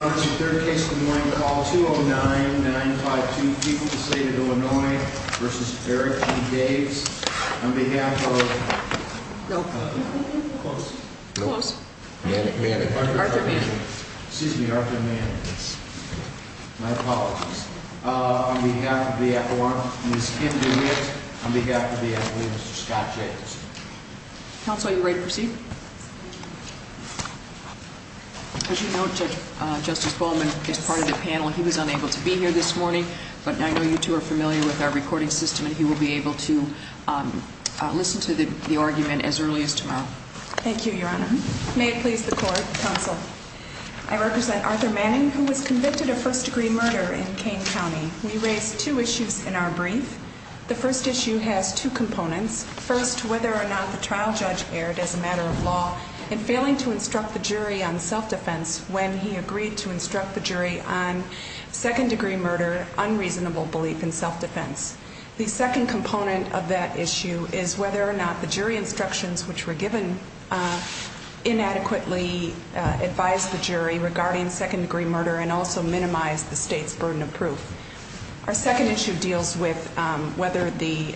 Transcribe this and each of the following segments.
Third case of the morning, call 209-952, Equal to State of Illinois v. Eric G. Daves, on behalf of Arthur Manning, my apologies. On behalf of Ms. Kim DeWitt, on behalf of Mr. Scott Jacobson. Counsel, are you ready to proceed? As you note, Justice Bowman is part of the panel. He was unable to be here this morning, but I know you two are familiar with our recording system and he will be able to listen to the argument as early as tomorrow. Thank you, Your Honor. May it please the Court, Counsel. I represent Arthur Manning, who was convicted of first-degree murder in Kane County. We raised two issues in our brief. The first issue has two components. First, whether or not the trial judge erred as a matter of law in failing to instruct the jury on self-defense when he agreed to instruct the jury on second-degree murder, unreasonable belief in self-defense. The second component of that issue is whether or not the jury instructions which were given inadequately advised the jury regarding second-degree murder and also minimized the state's burden of proof. Our second issue deals with whether the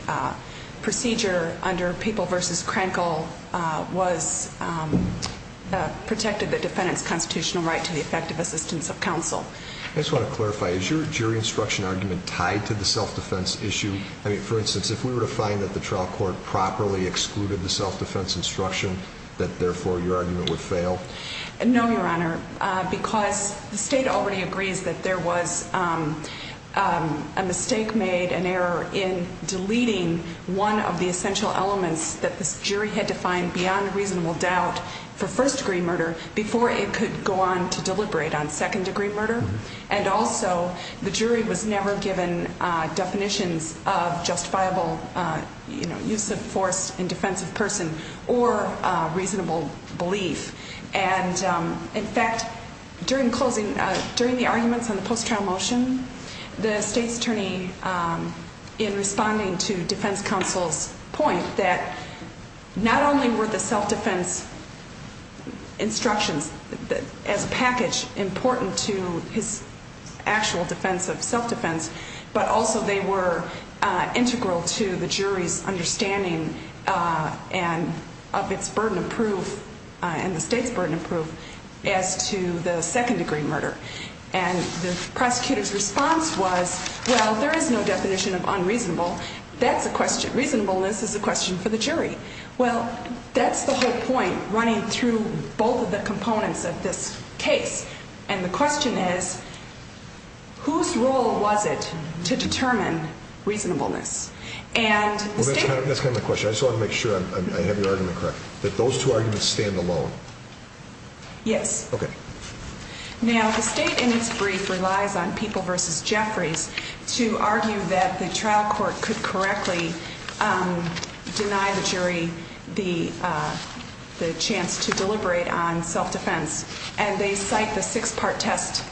procedure under Papal v. Krenkel protected the defendant's constitutional right to the effective assistance of counsel. I just want to clarify, is your jury instruction argument tied to the self-defense issue? I mean, for instance, if we were to find that the trial court properly excluded the self-defense instruction, that therefore your argument would fail? No, Your Honor, because the state already agrees that there was a mistake made, an error, in deleting one of the essential elements that the jury had to find beyond reasonable doubt for first-degree murder before it could go on to deliberate on second-degree murder. And also, the jury was never given definitions of justifiable use of force in defense of person or reasonable belief. And in fact, during the arguments on the post-trial motion, the state's attorney, in responding to defense counsel's point that not only were the self-defense instructions as a package important to his actual defense of self-defense, but also they were integral to the jury's understanding of its burden of proof and the state's burden of proof as to the second-degree murder. And the prosecutor's response was, well, there is no definition of unreasonable. That's a question. Reasonableness is a question for the jury. Well, that's the whole point running through both of the components of this case. And the question is, whose role was it to determine reasonableness? Well, that's kind of the question. I just want to make sure I have your argument correct. That those two arguments stand alone. Yes. Okay. Now, the state, in its brief, relies on People v. Jeffries to argue that the trial court could correctly deny the jury the chance to deliberate on self-defense. And they cite the six-part test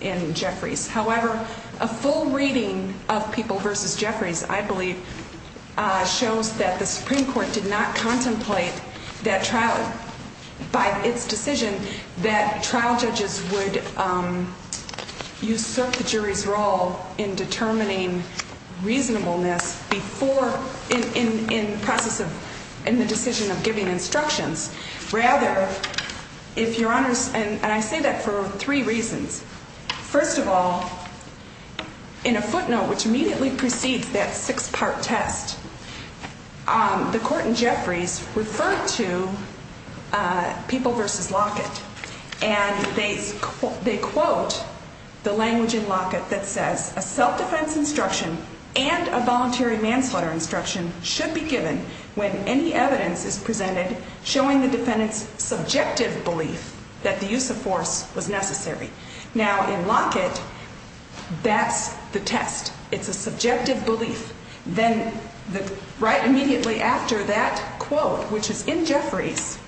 in Jeffries. However, a full reading of People v. Jeffries, I believe, shows that the Supreme Court did not contemplate that trial, by its decision, that trial judges would usurp the jury's role in determining reasonableness before, in the process of, in the decision of giving instructions. Rather, if Your Honors, and I say that for three reasons. First of all, in a footnote which immediately precedes that six-part test, the court in Jeffries referred to People v. Lockett. And they quote the language in Lockett that says, a self-defense instruction and a voluntary manslaughter instruction should be given when any evidence is presented showing the defendant's subjective belief that the use of force was necessary. Now, in Lockett, that's the test. It's a subjective belief. Then, right immediately after that quote, which is in Jeffries,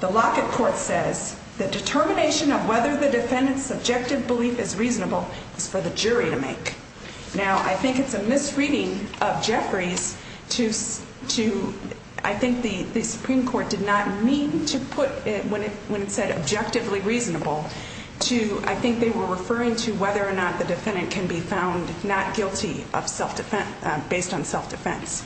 the Lockett court says, the determination of whether the defendant's subjective belief is reasonable is for the jury to make. Now, I think it's a misreading of Jeffries to, I think the Supreme Court did not mean to put, when it said objectively reasonable, to, I think they were referring to whether or not the defendant can be found not guilty of self-defense, based on self-defense.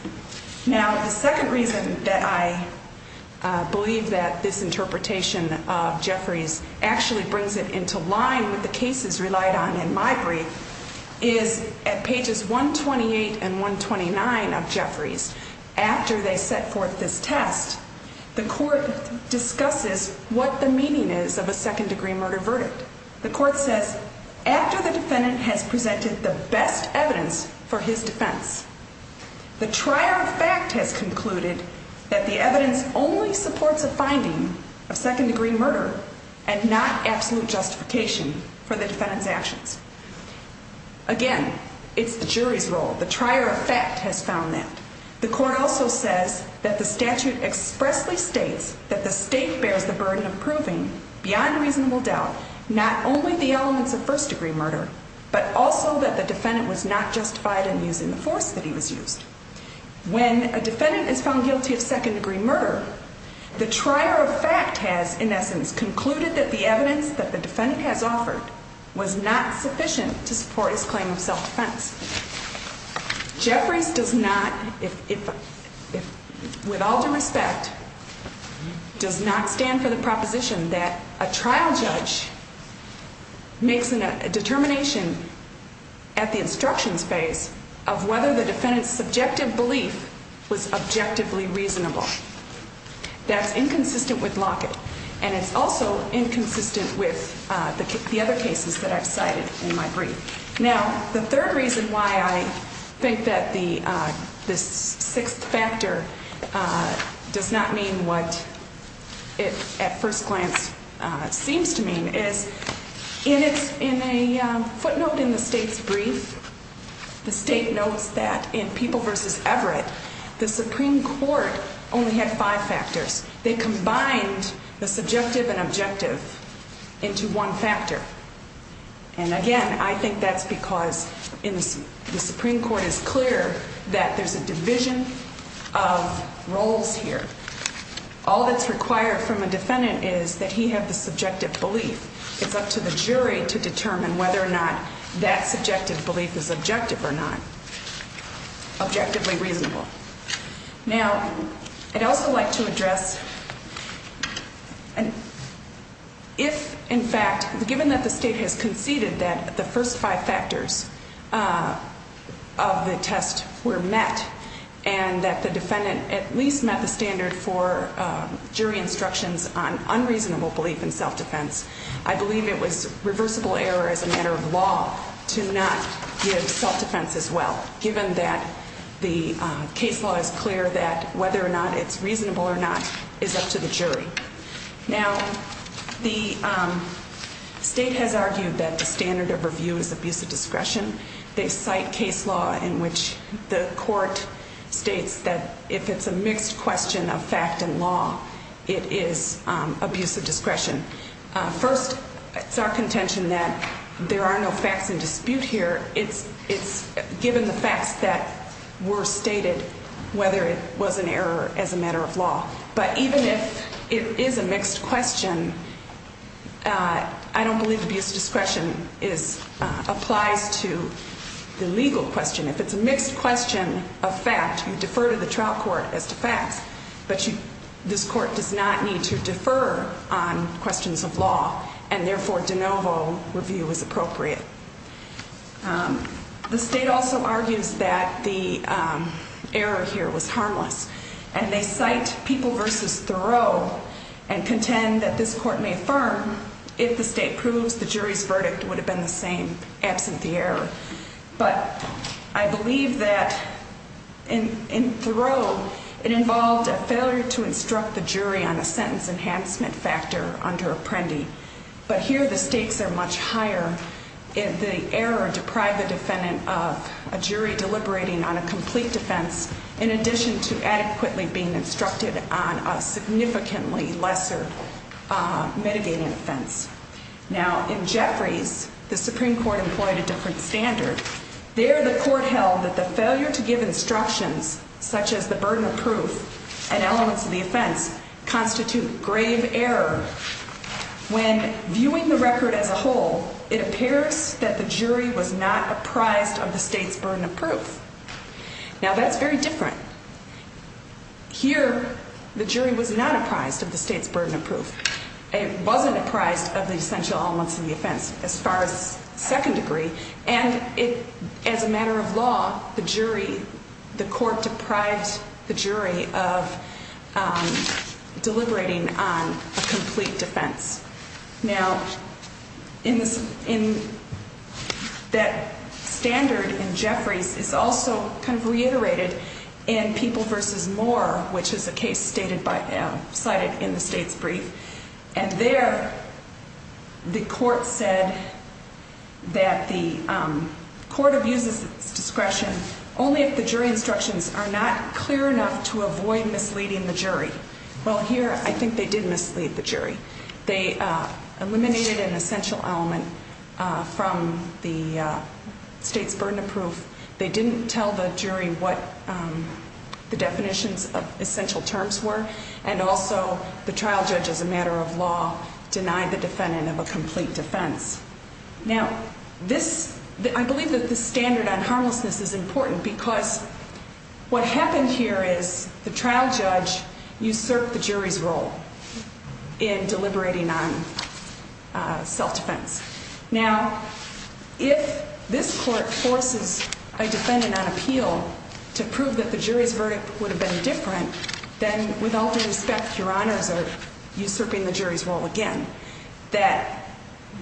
Now, the second reason that I believe that this interpretation of Jeffries actually brings it into line with the cases relied on in my brief is, at pages 128 and 129 of Jeffries, after they set forth this test, the court discusses what the meaning is of a second-degree murder verdict. The court says, after the defendant has presented the best evidence for his defense, the trier of fact has concluded that the evidence only supports a finding of second-degree murder and not absolute justification for the defendant's actions. Again, it's the jury's role. The trier of fact has found that. The court also says that the statute expressly states that the state bears the burden of proving, beyond reasonable doubt, not only the elements of first-degree murder, but also that the defendant was not justified in using the force that he was used. When a defendant is found guilty of second-degree murder, the trier of fact has, in essence, concluded that the evidence that the defendant has offered was not sufficient to support his claim of self-defense. The third reason that I believe that this interpretation of Jeffries actually brings it into line with the cases relied on in my brief is, Jeffries does not, with all due respect, does not stand for the proposition that a trial judge makes a determination at the instructions phase of whether the defendant's subjective belief was objectively reasonable. That's inconsistent with Lockett, and it's also inconsistent with the other cases that I've cited in my brief. Now, the third reason why I think that the sixth factor does not mean what it at first glance seems to mean is, in a footnote in the state's brief, the state notes that in People v. Everett, the Supreme Court only had five factors. They combined the subjective and objective into one factor. And again, I think that's because the Supreme Court is clear that there's a division of roles here. All that's required from a defendant is that he have the subjective belief. It's up to the jury to determine whether or not that subjective belief is objective or not, objectively reasonable. Now, I'd also like to address if, in fact, given that the state has conceded that the first five factors of the test were met and that the defendant at least met the standard for jury instructions on unreasonable belief in self-defense, I believe it was reversible error as a matter of law to not give self-defense as well, given that the case law is clear that whether or not it's reasonable or not is up to the jury. Now, the state has argued that the standard of review is abuse of discretion. They cite case law in which the court states that if it's a mixed question of fact and law, it is abuse of discretion. First, it's our contention that there are no facts in dispute here. It's given the facts that were stated whether it was an error as a matter of law. But even if it is a mixed question, I don't believe abuse of discretion applies to the legal question. If it's a mixed question of fact, you defer to the trial court as to facts. But this court does not need to defer on questions of law. And therefore, de novo review is appropriate. The state also argues that the error here was harmless. And they cite People v. Thoreau and contend that this court may affirm if the state proves the jury's verdict would have been the same absent the error. But I believe that in Thoreau, it involved a failure to instruct the jury on a sentence enhancement factor under Apprendi. But here the stakes are much higher if the error deprived the defendant of a jury deliberating on a complete defense in addition to adequately being instructed on a significantly lesser mitigating offense. Now in Jeffries, the Supreme Court employed a different standard. There the court held that the failure to give instructions such as the burden of proof and elements of the offense constitute grave error. When viewing the record as a whole, it appears that the jury was not apprised of the state's burden of proof. Now that's very different. Here the jury was not apprised of the state's burden of proof. It wasn't apprised of the essential elements of the offense as far as second degree. And as a matter of law, the jury, the court deprived the jury of deliberating on a complete defense. Now that standard in Jeffries is also kind of reiterated in People v. Moore, which is a case cited in the state's brief. And there the court said that the court abuses its discretion only if the jury instructions are not clear enough to avoid misleading the jury. Well, here I think they did mislead the jury. They eliminated an essential element from the state's burden of proof. They didn't tell the jury what the definitions of essential terms were. And also the trial judge, as a matter of law, denied the defendant of a complete defense. Now, I believe that this standard on harmlessness is important because what happened here is the trial judge usurped the jury's role in deliberating on self-defense. Now, if this court forces a defendant on appeal to prove that the jury's verdict would have been different, then with all due respect, your honors are usurping the jury's role again, that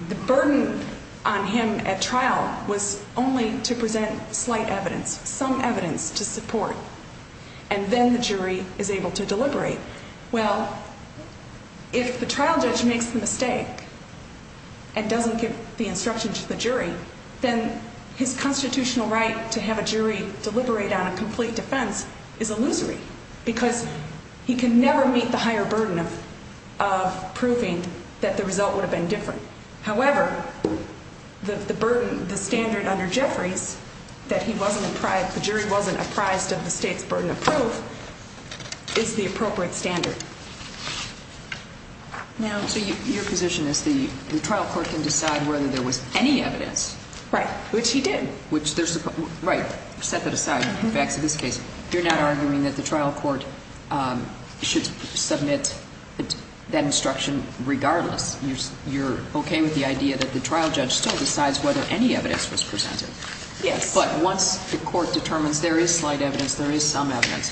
the burden on him at trial was only to present slight evidence, some evidence to support, and then the jury is able to deliberate. Well, if the trial judge makes the mistake and doesn't give the instruction to the jury, then his constitutional right to have a jury deliberate on a complete defense is illusory because he can never meet the higher burden of proving that the result would have been different. However, the burden, the standard under Jeffries that he wasn't apprised, the jury wasn't apprised of the state's burden of proof is the appropriate standard. Now, so your position is the trial court can decide whether there was any evidence. Right. Which he did. Right. Set that aside. Back to this case. You're not arguing that the trial court should submit that instruction regardless. You're okay with the idea that the trial judge still decides whether any evidence was presented. Yes. But once the court determines there is slight evidence, there is some evidence,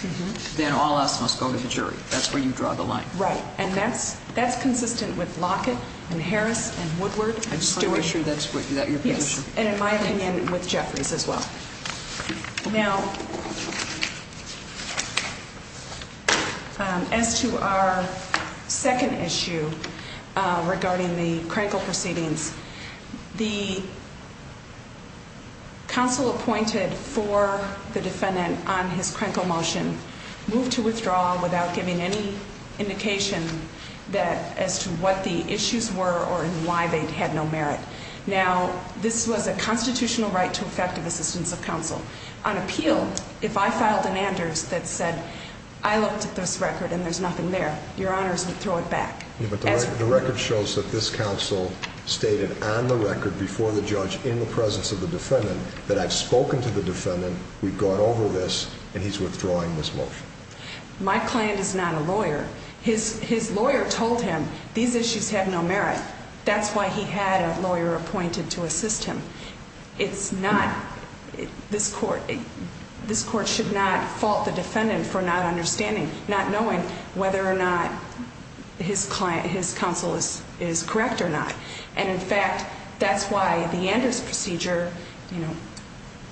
then all else must go to the jury. That's where you draw the line. Right. And that's consistent with Lockett and Harris and Woodward and Stewart. I'm sure that's your position. Yes. And in my opinion, with Jeffries as well. Now, as to our second issue regarding the critical proceedings, the counsel appointed for the defendant on his critical motion moved to withdraw without giving any indication that as to what the issues were or why they had no merit. Now, this was a constitutional right to effective assistance of counsel. On appeal, if I filed an Anders that said I looked at this record and there's nothing there, your honors would throw it back. But the record shows that this counsel stated on the record before the judge in the presence of the defendant that I've spoken to the defendant, we've gone over this, and he's withdrawing this motion. My client is not a lawyer. His lawyer told him these issues had no merit. That's why he had a lawyer appointed to assist him. It's not this court. This court should not fault the defendant for not understanding, not knowing whether or not his client, his counsel is correct or not. And, in fact, that's why the Anders procedure.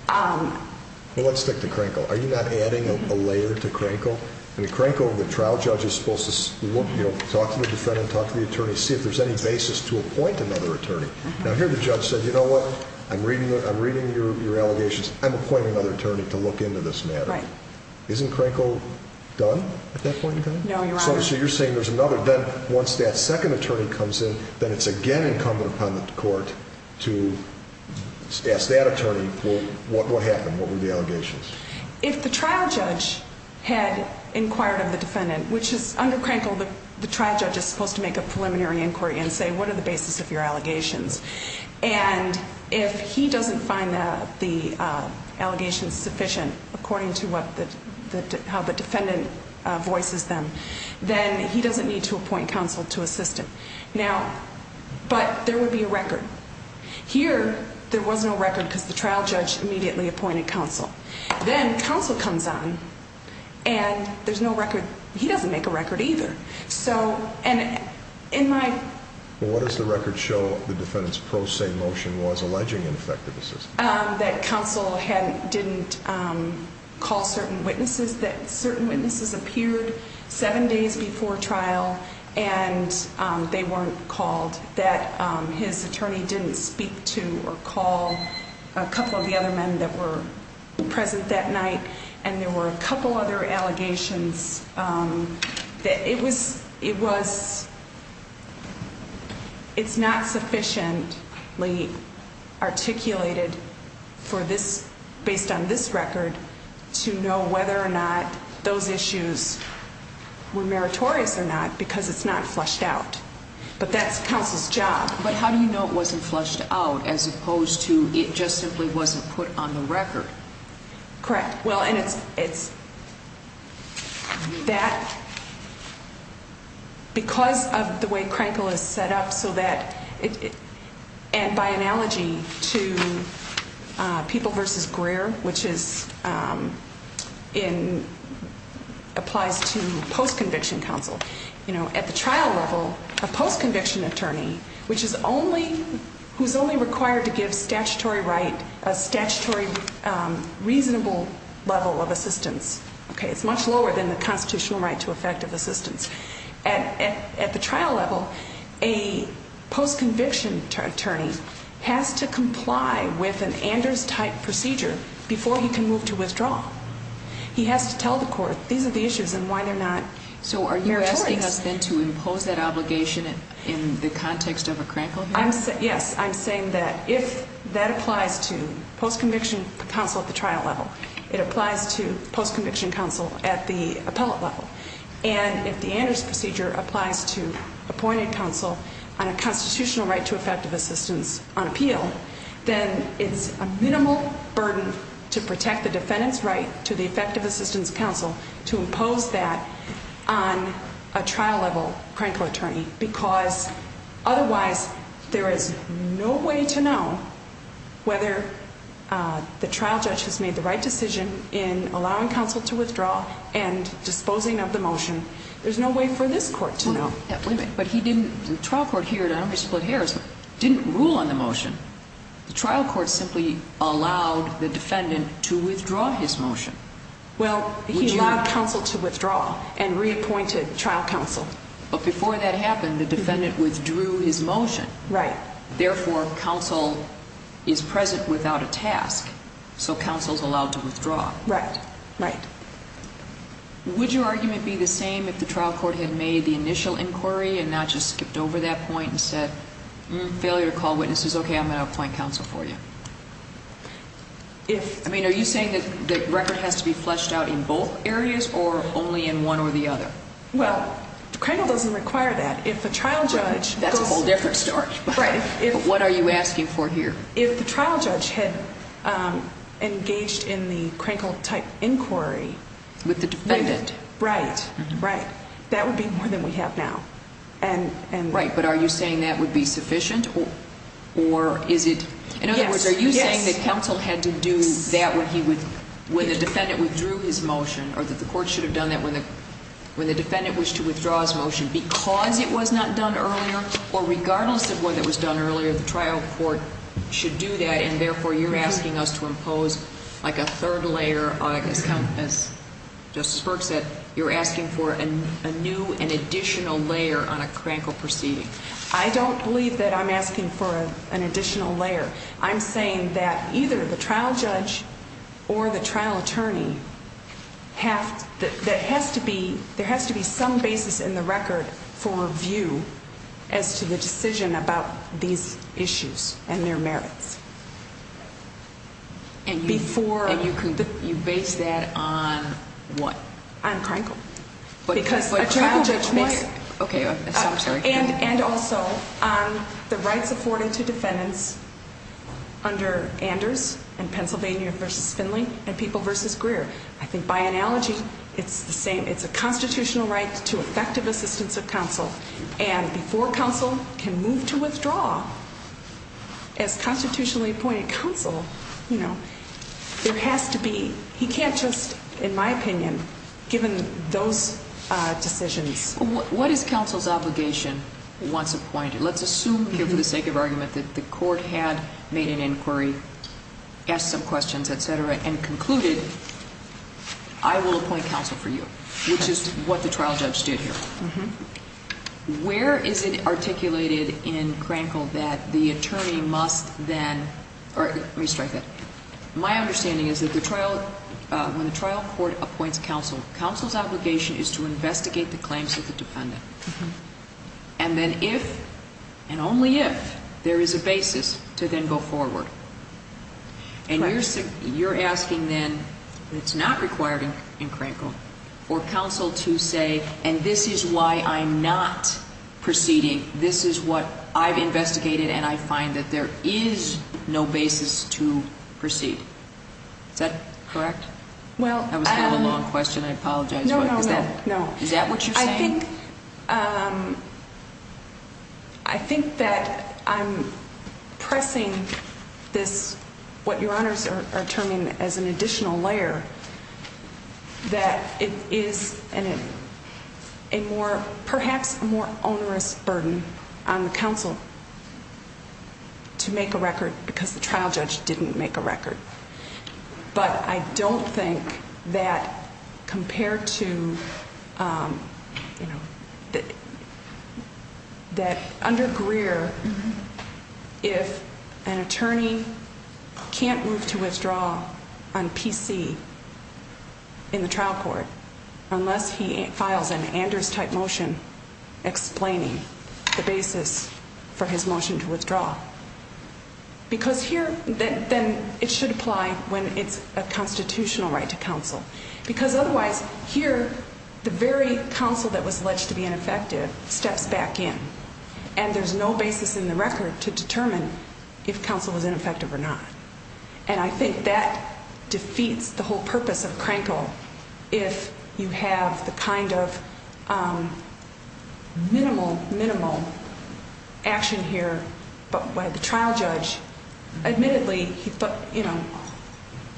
Well, let's stick to Crankle. Are you not adding a layer to Crankle? In Crankle, the trial judge is supposed to talk to the defendant, talk to the attorney, see if there's any basis to appoint another attorney. Now, here the judge said, you know what? I'm reading your allegations. I'm appointing another attorney to look into this matter. Right. No, your honors. So you're saying there's another. Then once that second attorney comes in, then it's again incumbent upon the court to ask that attorney, well, what happened? What were the allegations? If the trial judge had inquired of the defendant, which is under Crankle, the trial judge is supposed to make a preliminary inquiry and say, what are the basis of your allegations? And if he doesn't find the allegations sufficient, according to how the defendant voices them, then he doesn't need to appoint counsel to assist him. Now, but there would be a record. Here, there was no record because the trial judge immediately appointed counsel. Then counsel comes on, and there's no record. He doesn't make a record either. What does the record show the defendant's pro se motion was alleging ineffective assistance? That counsel didn't call certain witnesses. That certain witnesses appeared seven days before trial, and they weren't called. That his attorney didn't speak to or call a couple of the other men that were present that night. And there were a couple other allegations that it was, it was, it's not sufficiently articulated for this, based on this record, to know whether or not those issues were meritorious or not because it's not flushed out. But that's counsel's job. But how do you know it wasn't flushed out as opposed to it just simply wasn't put on the record? Correct. Well, and it's, it's that because of the way crankle is set up so that it and by analogy to people versus Greer, which is in applies to post conviction counsel, you know, at the trial level, a post conviction attorney, which is only who's only required to give statutory right, a statutory. Reasonable level of assistance. Okay, it's much lower than the constitutional right to effective assistance at the trial level. A post conviction attorney has to comply with an Anders type procedure before he can move to withdraw. He has to tell the court, these are the issues and why they're not. So are you asking us then to impose that obligation in the context of a crankle? Yes, I'm saying that if that applies to post conviction counsel at the trial level, it applies to post conviction counsel at the appellate level. And if the Anders procedure applies to appointed counsel on a constitutional right to effective assistance on appeal, then it's a minimal burden to protect the defendant's right to the effective assistance counsel to impose that on a trial level crankle attorney. Because otherwise there is no way to know whether the trial judge has made the right decision in allowing counsel to withdraw and disposing of the motion. There's no way for this court to know. Wait a minute, but he didn't. The trial court here at split Harris didn't rule on the motion. The trial court simply allowed the defendant to withdraw his motion. Well, he allowed counsel to withdraw and reappointed trial counsel. But before that happened, the defendant withdrew his motion. Right. Therefore, counsel is present without a task. So counsel's allowed to withdraw. Right, right. Would your argument be the same if the trial court had made the initial inquiry and not just skipped over that point and said failure to call witnesses? Okay, I'm going to appoint counsel for you. If I mean, are you saying that the record has to be fleshed out in both areas or only in one or the other? Well, crankle doesn't require that. If the trial judge goes to the court. That's a whole different story. Right. What are you asking for here? If the trial judge had engaged in the crankle-type inquiry. With the defendant. Right, right. That would be more than we have now. Right, but are you saying that would be sufficient or is it? Yes. In other words, are you saying that counsel had to do that when the defendant withdrew his motion or that the court should have done that when the defendant wished to withdraw his motion because it was not done earlier or regardless of whether it was done earlier, the trial court should do that, and therefore you're asking us to impose like a third layer, as Justice Burke said, you're asking for a new and additional layer on a crankle proceeding. I don't believe that I'm asking for an additional layer. I'm saying that either the trial judge or the trial attorney has to be, there has to be some basis in the record for review as to the decision about these issues and their merits. And you base that on what? On crankle. Okay, I'm sorry. And also on the rights afforded to defendants under Anders and Pennsylvania v. Finley and People v. Greer. I think by analogy, it's the same. It's a constitutional right to effective assistance of counsel, and before counsel can move to withdraw as constitutionally appointed counsel, there has to be, he can't just, in my opinion, given those decisions. What is counsel's obligation once appointed? Let's assume here for the sake of argument that the court had made an inquiry, asked some questions, et cetera, and concluded I will appoint counsel for you, which is what the trial judge did here. Where is it articulated in crankle that the attorney must then, let me strike that. My understanding is that the trial, when the trial court appoints counsel, counsel's obligation is to investigate the claims of the defendant. And then if and only if there is a basis to then go forward. And you're asking then, it's not required in crankle for counsel to say, and this is why I'm not proceeding. This is what I've investigated, and I find that there is no basis to proceed. Is that correct? That was kind of a long question. I apologize. No, no, no. Is that what you're saying? I think that I'm pressing this, what your honors are terming as an additional layer, that it is perhaps a more onerous burden on the counsel to make a record because the trial judge didn't make a record. But I don't think that compared to, you know, that under Greer, if an attorney can't move to withdraw on PC in the trial court, unless he files an Anders type motion explaining the basis for his motion to withdraw. Because here, then it should apply when it's a constitutional right to counsel. Because otherwise, here, the very counsel that was alleged to be ineffective steps back in. And there's no basis in the record to determine if counsel was ineffective or not. And I think that defeats the whole purpose of crankle if you have the kind of minimal, minimal action here, but why the trial judge admittedly, he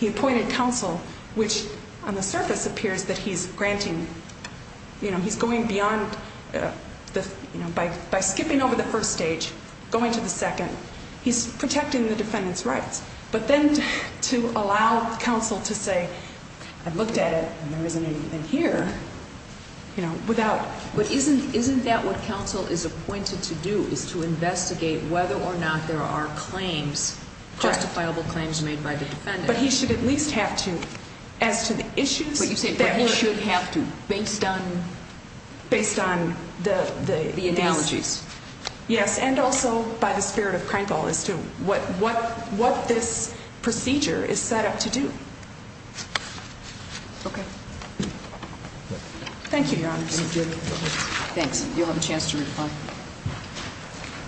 appointed counsel, which on the surface appears that he's granting, you know, he's going beyond by skipping over the first stage, going to the second. He's protecting the defendant's rights. But then to allow counsel to say, I looked at it and there isn't anything here, you know, without. But isn't, isn't that what counsel is appointed to do is to investigate whether or not there are claims, justifiable claims made by the defendant. But he should at least have to, as to the issues that you should have to based on, based on the analogies. Yes. And also by the spirit of crankle as to what, what, what this procedure is set up to do. Okay. Thank you. Thanks. You'll have a chance to reply.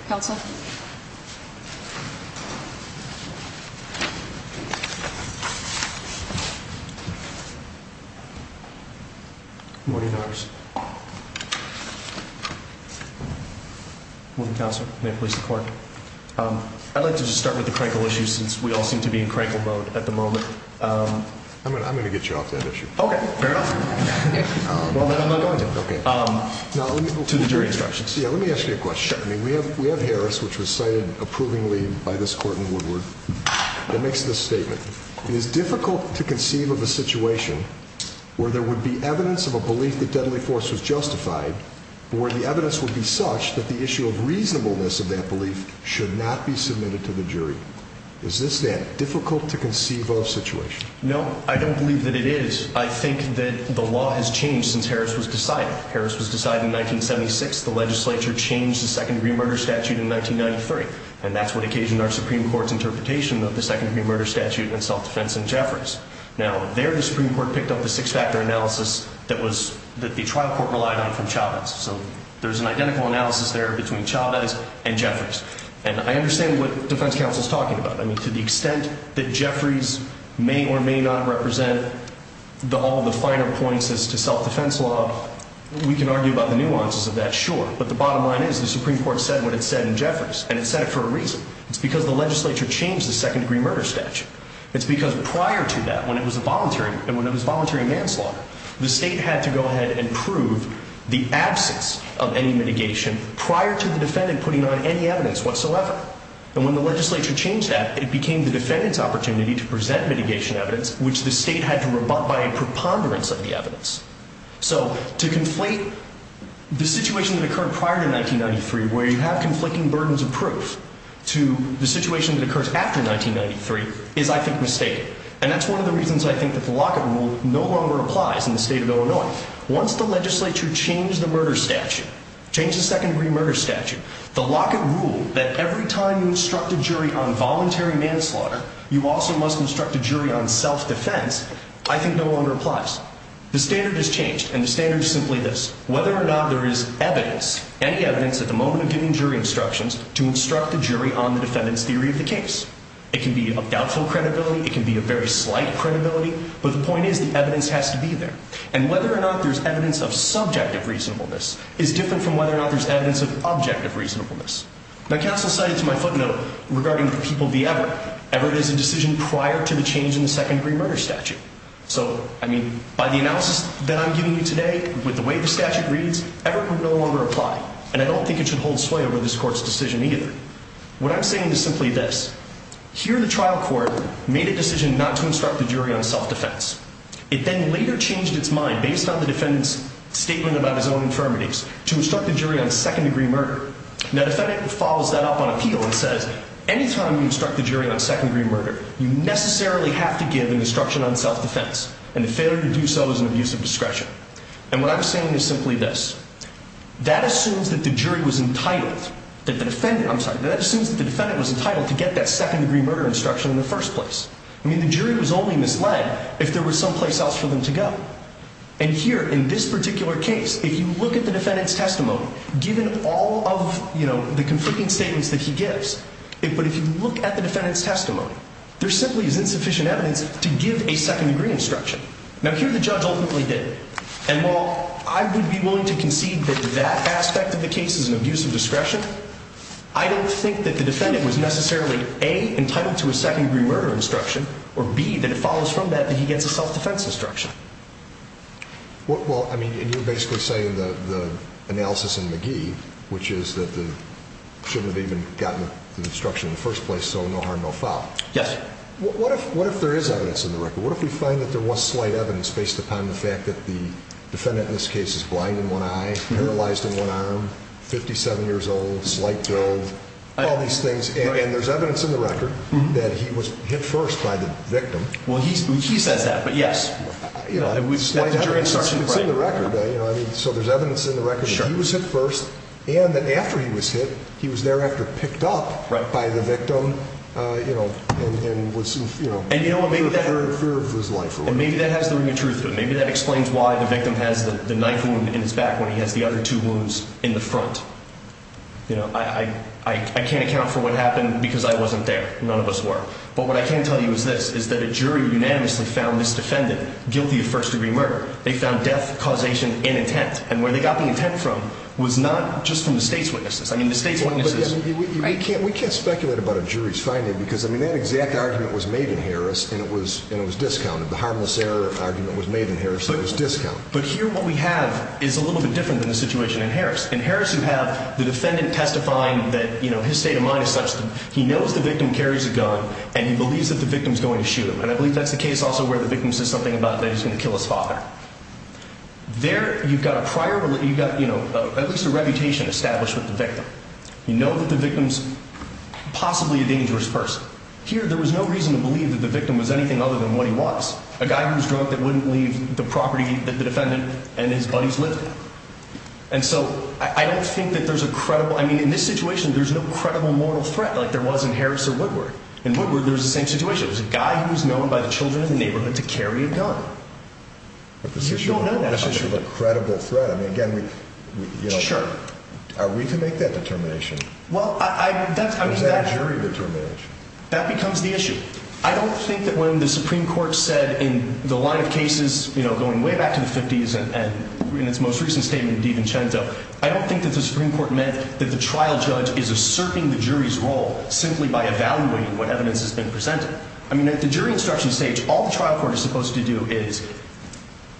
Counsel. Morning, Congress. Morning, Counsel. May it please the court. I'd like to just start with the crankle issue since we all seem to be in crankle mode at the moment. I'm going to get you off that issue. Okay. Fair enough. Well, then I'm not going to. Okay. To the jury instructions. Yeah. Let me ask you a question. We have, we have Harris, which was cited approvingly by this court in Woodward that makes this statement. It is difficult to conceive of a situation where there would be evidence of a belief that deadly force was justified, but where the evidence would be such that the issue of reasonableness of that belief should not be submitted to the jury. Is this that difficult to conceive of situation? No, I don't believe that it is. I think that the law has changed since Harris was decided. Harris was decided in 1976. The legislature changed the Second Degree Murder Statute in 1993, and that's what occasioned our Supreme Court's interpretation of the Second Degree Murder Statute and self-defense in Jeffries. Now, there the Supreme Court picked up the six-factor analysis that was, that the trial court relied on from Chavez. So there's an identical analysis there between Chavez and Jeffries. And I understand what Defense Counsel is talking about. I mean, to the extent that Jeffries may or may not represent all the finer points as to self-defense law, we can argue about the nuances of that, sure. But the bottom line is the Supreme Court said what it said in Jeffries, and it said it for a reason. It's because the legislature changed the Second Degree Murder Statute. It's because prior to that, when it was a voluntary, and when it was a voluntary manslaughter, the state had to go ahead and prove the absence of any mitigation prior to the defendant putting on any evidence whatsoever. And when the legislature changed that, it became the defendant's opportunity to present mitigation evidence, which the state had to rebut by a preponderance of the evidence. So to conflate the situation that occurred prior to 1993 where you have conflicting burdens of proof to the situation that occurs after 1993 is, I think, mistaken. And that's one of the reasons, I think, that the Lockett Rule no longer applies in the state of Illinois. Once the legislature changed the murder statute, changed the Second Degree Murder Statute, the Lockett Rule that every time you instruct a jury on voluntary manslaughter, you also must instruct a jury on self-defense, I think no longer applies. The standard has changed, and the standard is simply this. Whether or not there is evidence, any evidence at the moment of giving jury instructions to instruct a jury on the defendant's theory of the case. It can be of doubtful credibility. It can be of very slight credibility. But the point is the evidence has to be there. And whether or not there's evidence of subjective reasonableness is different from whether or not there's evidence of objective reasonableness. Now counsel cited to my footnote regarding the People v. Everett, Everett is a decision prior to the change in the Second Degree Murder Statute. So, I mean, by the analysis that I'm giving you today, with the way the statute reads, Everett would no longer apply. And I don't think it should hold sway over this Court's decision either. What I'm saying is simply this. Here the trial court made a decision not to instruct the jury on self-defense. It then later changed its mind, based on the defendant's statement about his own infirmities, to instruct the jury on second-degree murder. Now the defendant follows that up on appeal and says, anytime you instruct the jury on second-degree murder, you necessarily have to give an instruction on self-defense. And the failure to do so is an abuse of discretion. And what I'm saying is simply this. That assumes that the jury was entitled, that the defendant, I'm sorry, that assumes that the defendant was entitled to get that second-degree murder instruction in the first place. I mean, the jury was only misled if there was someplace else for them to go. And here, in this particular case, if you look at the defendant's testimony, given all of the conflicting statements that he gives, but if you look at the defendant's testimony, there simply is insufficient evidence to give a second-degree instruction. Now here the judge ultimately did. And while I would be willing to concede that that aspect of the case is an abuse of discretion, I don't think that the defendant was necessarily, A, entitled to a second-degree murder instruction, or B, that it follows from that that he gets a self-defense instruction. Well, I mean, and you're basically saying the analysis in McGee, which is that they shouldn't have even gotten the instruction in the first place, so no harm, no foul. Yes. What if there is evidence in the record? What if we find that there was slight evidence based upon the fact that the defendant in this case is blind in one eye, paralyzed in one arm, 57 years old, slight drove, all these things, and there's evidence in the record that he was hit first by the victim. Well, he says that, but yes. You know, slight evidence is in the record. So there's evidence in the record that he was hit first and that after he was hit, he was thereafter picked up by the victim and was, you know, feared for his life. And maybe that has the ring of truth to it. Maybe that explains why the victim has the knife wound in his back when he has the other two wounds in the front. You know, I can't account for what happened because I wasn't there. None of us were. But what I can tell you is this, is that a jury unanimously found this defendant guilty of first-degree murder. They found death, causation, and intent. And where they got the intent from was not just from the state's witnesses. I mean, the state's witnesses. We can't speculate about a jury's finding because, I mean, that exact argument was made in Harris, and it was discounted. The harmless error argument was made in Harris, so it was discounted. But here what we have is a little bit different than the situation in Harris. In Harris, you have the defendant testifying that, you know, his state of mind is such that he knows the victim carries a gun and he believes that the victim's going to shoot him. And I believe that's the case also where the victim says something about that he's going to kill his father. There you've got a prior, you've got, you know, at least a reputation established with the victim. You know that the victim's possibly a dangerous person. Here, there was no reason to believe that the victim was anything other than what he was, a guy who was drunk that wouldn't leave the property that the defendant and his buddies lived in. And so I don't think that there's a credible, I mean, in this situation, there's no credible mortal threat like there was in Harris or Woodward. In Woodward, there's the same situation. It was a guy who was known by the children in the neighborhood to carry a gun. But this issue of a credible threat, I mean, again, we, you know, are we to make that determination? Well, I, that's, I mean, that. What does that jury determination? That becomes the issue. I don't think that when the Supreme Court said in the line of cases, you know, going way back to the 50s, and in its most recent statement in Devin Chenzo, I don't think that the Supreme Court meant that the trial judge is asserting the jury's role simply by evaluating what evidence has been presented. I mean, at the jury instruction stage, all the trial court is supposed to do is,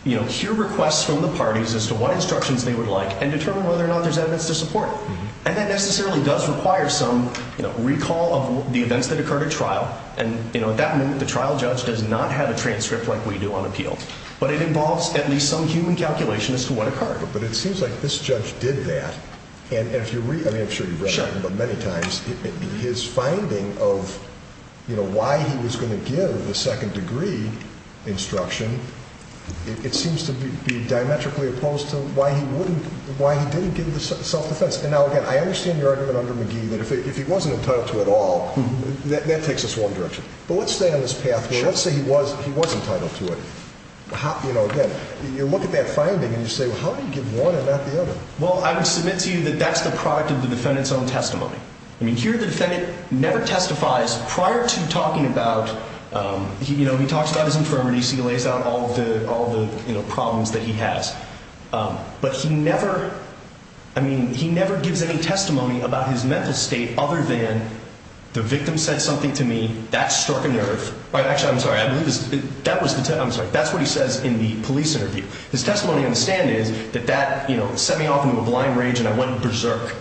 you know, hear requests from the parties as to what instructions they would like and determine whether or not there's evidence to support it. And that necessarily does require some, you know, recall of the events that occurred at trial. And, you know, at that moment, the trial judge does not have a transcript like we do on appeal. But it involves at least some human calculation as to what occurred. But it seems like this judge did that. And if you read, I mean, I'm sure you've read it many times. His finding of, you know, why he was going to give the second degree instruction, it seems to be diametrically opposed to why he wouldn't, why he didn't give the self defense. And now, again, I understand your argument under McGee that if he wasn't entitled to it all, that takes us one direction. But let's stay on this path here. Let's say he was entitled to it. You know, again, you look at that finding and you say, well, how do you give one and not the other? Well, I would submit to you that that's the product of the defendant's own testimony. I mean, here the defendant never testifies prior to talking about, you know, he talks about his infirmities. He lays out all the, you know, problems that he has. But he never, I mean, he never gives any testimony about his mental state other than the victim said something to me. That struck a nerve. Actually, I'm sorry. That's what he says in the police interview. His testimony on the stand is that that, you know, set me off into a blind rage and I went berserk.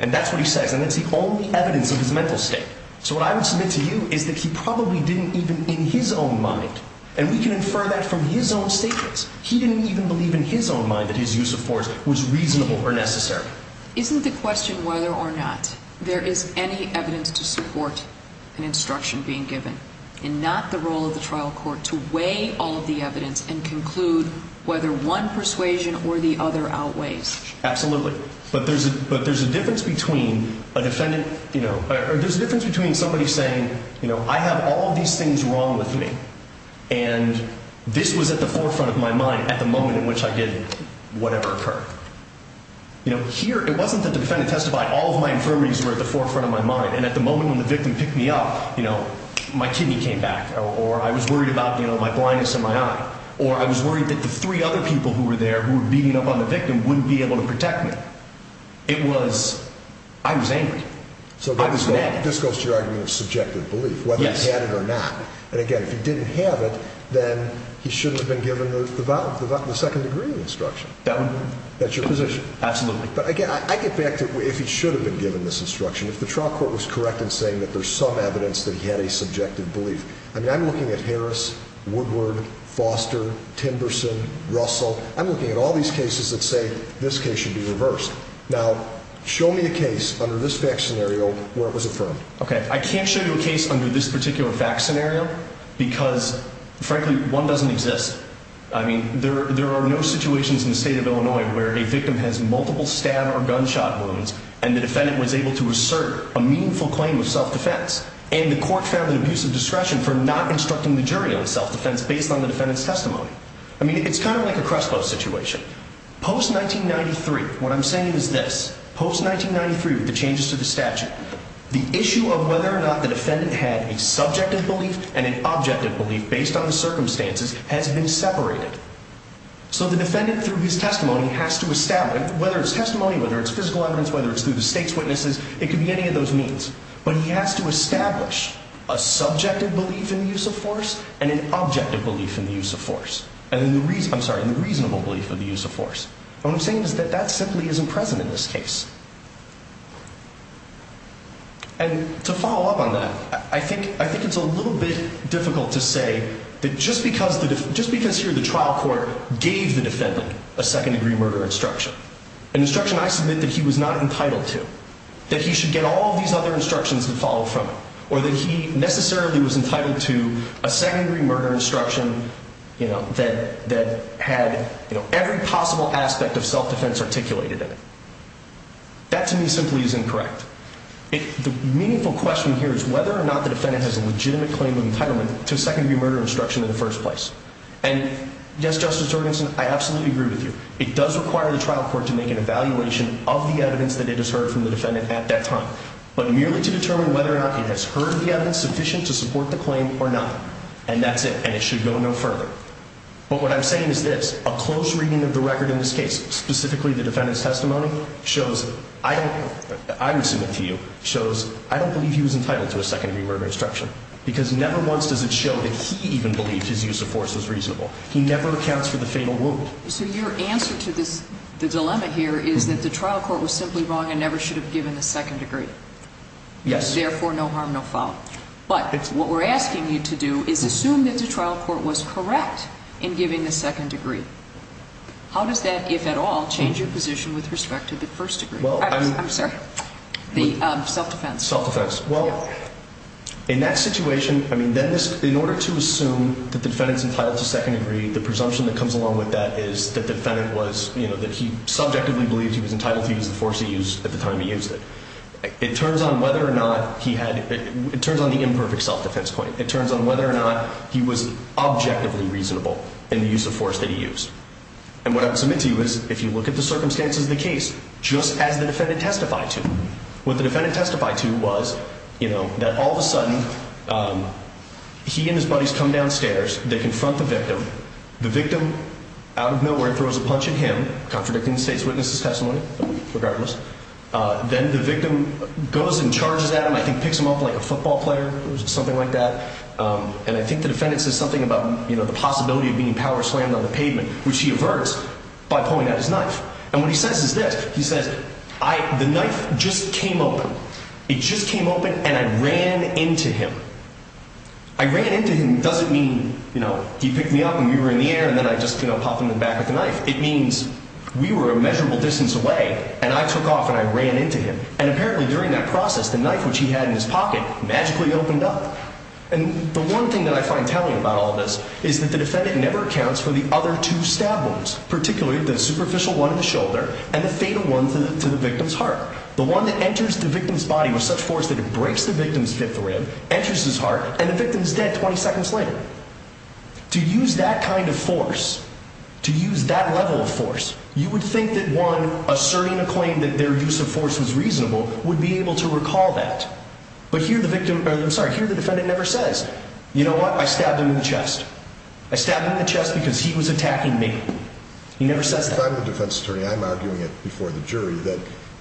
And that's what he says. And that's the only evidence of his mental state. So what I would submit to you is that he probably didn't even in his own mind. And we can infer that from his own statements. He didn't even believe in his own mind that his use of force was reasonable or necessary. Isn't the question whether or not there is any evidence to support an instruction being given and not the role of the trial court to weigh all of the evidence and conclude whether one persuasion or the other outweighs? Absolutely. But there's a difference between a defendant, you know, or there's a difference between somebody saying, you know, I have all of these things wrong with me. And this was at the forefront of my mind at the moment in which I did whatever occurred. You know, here it wasn't that the defendant testified. All of my infirmities were at the forefront of my mind. And at the moment when the victim picked me up, you know, my kidney came back. Or I was worried about, you know, my blindness in my eye. Or I was worried that the three other people who were there who were beating up on the victim wouldn't be able to protect me. It was, I was angry. So this goes to your argument of subjective belief, whether he had it or not. And again, if he didn't have it, then he shouldn't have been given the second degree instruction. That's your position. Absolutely. But again, I get back to if he should have been given this instruction. If the trial court was correct in saying that there's some evidence that he had a subjective belief. I mean, I'm looking at Harris, Woodward, Foster, Timberson, Russell. I'm looking at all these cases that say this case should be reversed. Now, show me a case under this fact scenario where it was affirmed. Okay. I can't show you a case under this particular fact scenario because, frankly, one doesn't exist. I mean, there are no situations in the state of Illinois where a victim has multiple stab or gunshot wounds. And the defendant was able to assert a meaningful claim of self-defense. And the court found an abuse of discretion for not instructing the jury on self-defense based on the defendant's testimony. I mean, it's kind of like a Crespo situation. Post-1993, what I'm saying is this. Post-1993 with the changes to the statute, the issue of whether or not the defendant had a subjective belief and an objective belief based on the circumstances has been separated. So the defendant, through his testimony, has to establish, whether it's testimony, whether it's physical evidence, whether it's through the state's witnesses, it could be any of those means. But he has to establish a subjective belief in the use of force and an objective belief in the use of force. I'm sorry, in the reasonable belief of the use of force. What I'm saying is that that simply isn't present in this case. And to follow up on that, I think it's a little bit difficult to say that just because here the trial court gave the defendant a second-degree murder instruction, an instruction I submit that he was not entitled to, that he should get all of these other instructions that follow from it, or that he necessarily was entitled to a second-degree murder instruction that had every possible aspect of self-defense articulated in it. That, to me, simply is incorrect. The meaningful question here is whether or not the defendant has a legitimate claim of entitlement to a second-degree murder instruction in the first place. And, yes, Justice Jorgensen, I absolutely agree with you. It does require the trial court to make an evaluation of the evidence that it has heard from the defendant at that time, but merely to determine whether or not it has heard the evidence sufficient to support the claim or not. And that's it. And it should go no further. But what I'm saying is this. A close reading of the record in this case, specifically the defendant's testimony, shows I don't – I would submit to you – shows I don't believe he was entitled to a second-degree murder instruction, because never once does it show that he even believed his use of force was reasonable. He never accounts for the fatal wound. So your answer to this – the dilemma here is that the trial court was simply wrong and never should have given the second degree. Yes. Therefore, no harm, no foul. But what we're asking you to do is assume that the trial court was correct in giving the second degree. How does that, if at all, change your position with respect to the first degree? I'm sorry? The self-defense. Self-defense. Well, in that situation – I mean, in order to assume that the defendant's entitled to second degree, the presumption that comes along with that is that the defendant was – that he subjectively believed he was entitled to use the force he used at the time he used it. It turns on whether or not he had – it turns on the imperfect self-defense point. It turns on whether or not he was objectively reasonable in the use of force that he used. And what I would submit to you is, if you look at the circumstances of the case, just as the defendant testified to, what the defendant testified to was that all of a sudden he and his buddies come downstairs, they confront the victim. The victim, out of nowhere, throws a punch at him, contradicting the state's witness' testimony, regardless. Then the victim goes and charges at him, I think picks him up like a football player or something like that. And I think the defendant says something about the possibility of being power-slammed on the pavement, which he averts by pulling out his knife. And what he says is this. He says, I – the knife just came open. It just came open and I ran into him. I ran into him doesn't mean, you know, he picked me up and we were in the air and then I just, you know, popped him in the back with the knife. It means we were a measurable distance away and I took off and I ran into him. And apparently during that process, the knife, which he had in his pocket, magically opened up. And the one thing that I find telling about all this is that the defendant never accounts for the other two stab wounds, particularly the superficial one in the shoulder and the fatal one to the victim's heart. The one that enters the victim's body with such force that it breaks the victim's fifth rib, enters his heart, and the victim's dead 20 seconds later. To use that kind of force, to use that level of force, you would think that one asserting a claim that their use of force was reasonable would be able to recall that. But here the victim – I'm sorry, here the defendant never says, you know what, I stabbed him in the chest. I stabbed him in the chest because he was attacking me. He never says that. If I'm the defense attorney, I'm arguing it before the jury that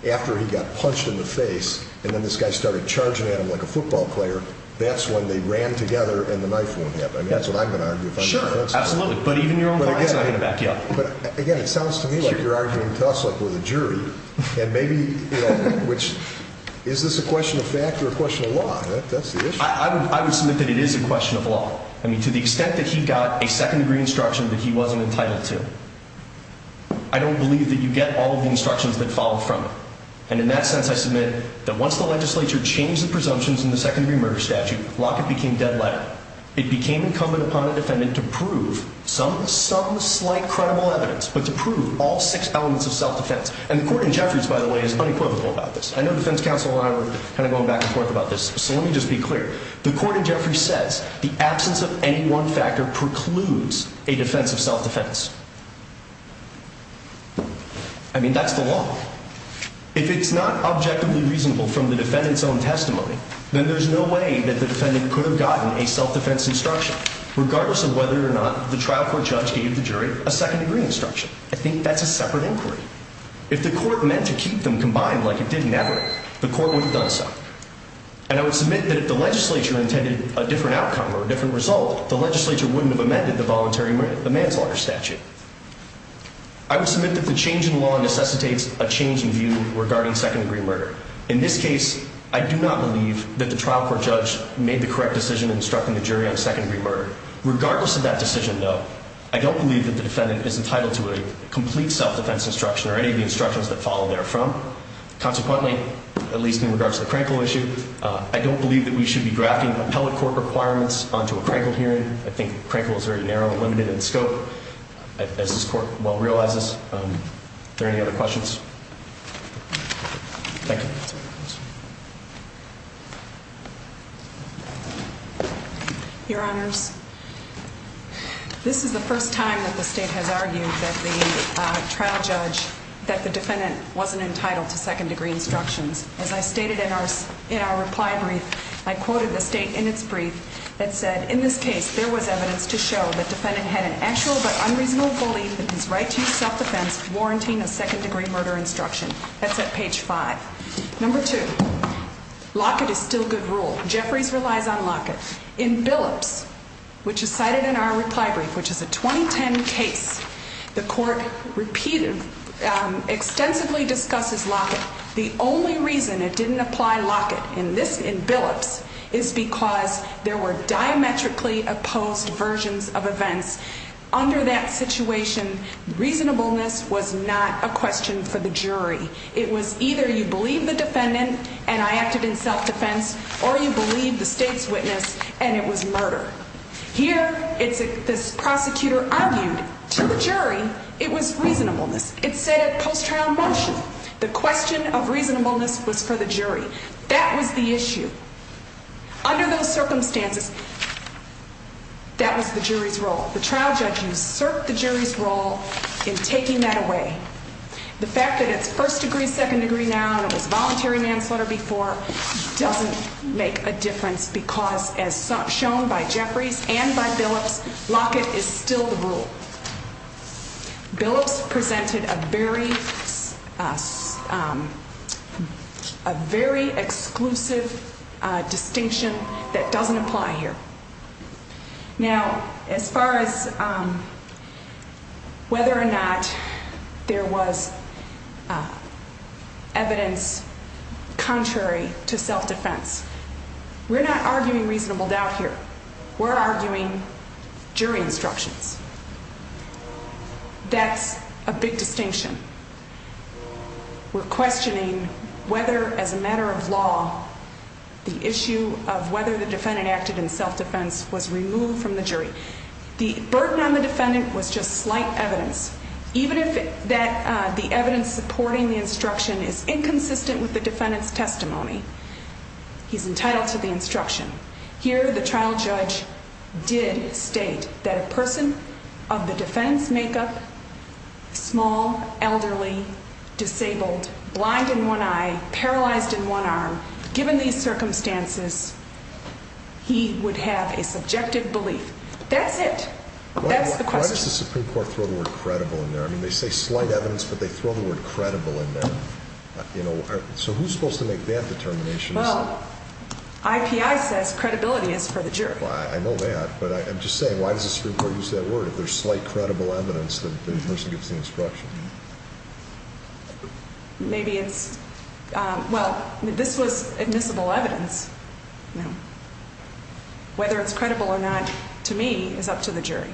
after he got punched in the face and then this guy started charging at him like a football player, that's when they ran together and the knife wound happened. I mean, that's what I'm going to argue if I'm the defense attorney. Sure, absolutely. But even your own clients are not going to back you up. But again, it sounds to me like you're arguing to us like we're the jury. And maybe, you know, which – is this a question of fact or a question of law? I would submit that it is a question of law. I mean, to the extent that he got a second-degree instruction that he wasn't entitled to, I don't believe that you get all of the instructions that follow from it. And in that sense, I submit that once the legislature changed the presumptions in the second-degree murder statute, Lockett became deadlier. It became incumbent upon the defendant to prove some slight credible evidence, but to prove all six elements of self-defense. And the court in Jeffries, by the way, is unequivocal about this. I know the defense counsel and I were kind of going back and forth about this, so let me just be clear. The court in Jeffries says the absence of any one factor precludes a defense of self-defense. I mean, that's the law. If it's not objectively reasonable from the defendant's own testimony, then there's no way that the defendant could have gotten a self-defense instruction, regardless of whether or not the trial court judge gave the jury a second-degree instruction. I think that's a separate inquiry. If the court meant to keep them combined like it did in Everett, the court wouldn't have done so. And I would submit that if the legislature intended a different outcome or a different result, the legislature wouldn't have amended the voluntary manslaughter statute. I would submit that the change in law necessitates a change in view regarding second-degree murder. In this case, I do not believe that the trial court judge made the correct decision in instructing the jury on second-degree murder. Regardless of that decision, though, I don't believe that the defendant is entitled to a complete self-defense instruction or any of the instructions that follow therefrom. Consequently, at least in regards to the Crankle issue, I don't believe that we should be drafting appellate court requirements onto a Crankle hearing. I think Crankle is very narrow and limited in scope, as this court well realizes. Are there any other questions? Thank you. Your Honors, this is the first time that the State has argued that the trial judge, that the defendant, wasn't entitled to second-degree instructions. As I stated in our reply brief, I quoted the State in its brief that said, in this case, there was evidence to show that the defendant had an actual but unreasonable belief in his right to use self-defense warranting a second-degree murder instruction. That's at page five. Number two, Lockett is still good rule. Jeffries relies on Lockett. In Billups, which is cited in our reply brief, which is a 2010 case, the Court repeated, extensively discusses Lockett. The only reason it didn't apply Lockett in Billups is because there were diametrically opposed versions of events. Under that situation, reasonableness was not a question for the jury. It was either you believe the defendant, and I acted in self-defense, or you believe the State's witness, and it was murder. Here, this prosecutor argued to the jury it was reasonableness. It said at post-trial motion, the question of reasonableness was for the jury. That was the issue. Under those circumstances, that was the jury's role. The trial judge usurped the jury's role in taking that away. The fact that it's first-degree, second-degree now and it was voluntary manslaughter before doesn't make a difference because as shown by Jeffries and by Billups, Lockett is still the rule. Billups presented a very exclusive distinction that doesn't apply here. Now, as far as whether or not there was evidence contrary to self-defense, we're not arguing reasonable doubt here. We're arguing jury instructions. That's a big distinction. We're questioning whether, as a matter of law, the issue of whether the defendant acted in self-defense was removed from the jury. The burden on the defendant was just slight evidence. Even if the evidence supporting the instruction is inconsistent with the defendant's testimony, he's entitled to the instruction. Here, the trial judge did state that a person of the defense makeup, small, elderly, disabled, blind in one eye, paralyzed in one arm, given these circumstances, he would have a subjective belief. That's it. That's the question. Why does the Supreme Court throw the word credible in there? I mean, they say slight evidence, but they throw the word credible in there. So who's supposed to make that determination? Well, IPI says credibility is for the jury. I know that, but I'm just saying, why does the Supreme Court use that word? If there's slight credible evidence, then the person gets the instruction. Maybe it's, well, this was admissible evidence. Whether it's credible or not, to me, is up to the jury.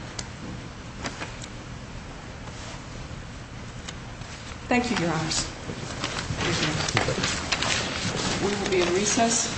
Thank you, Your Honors. Thank you. We will be in recess.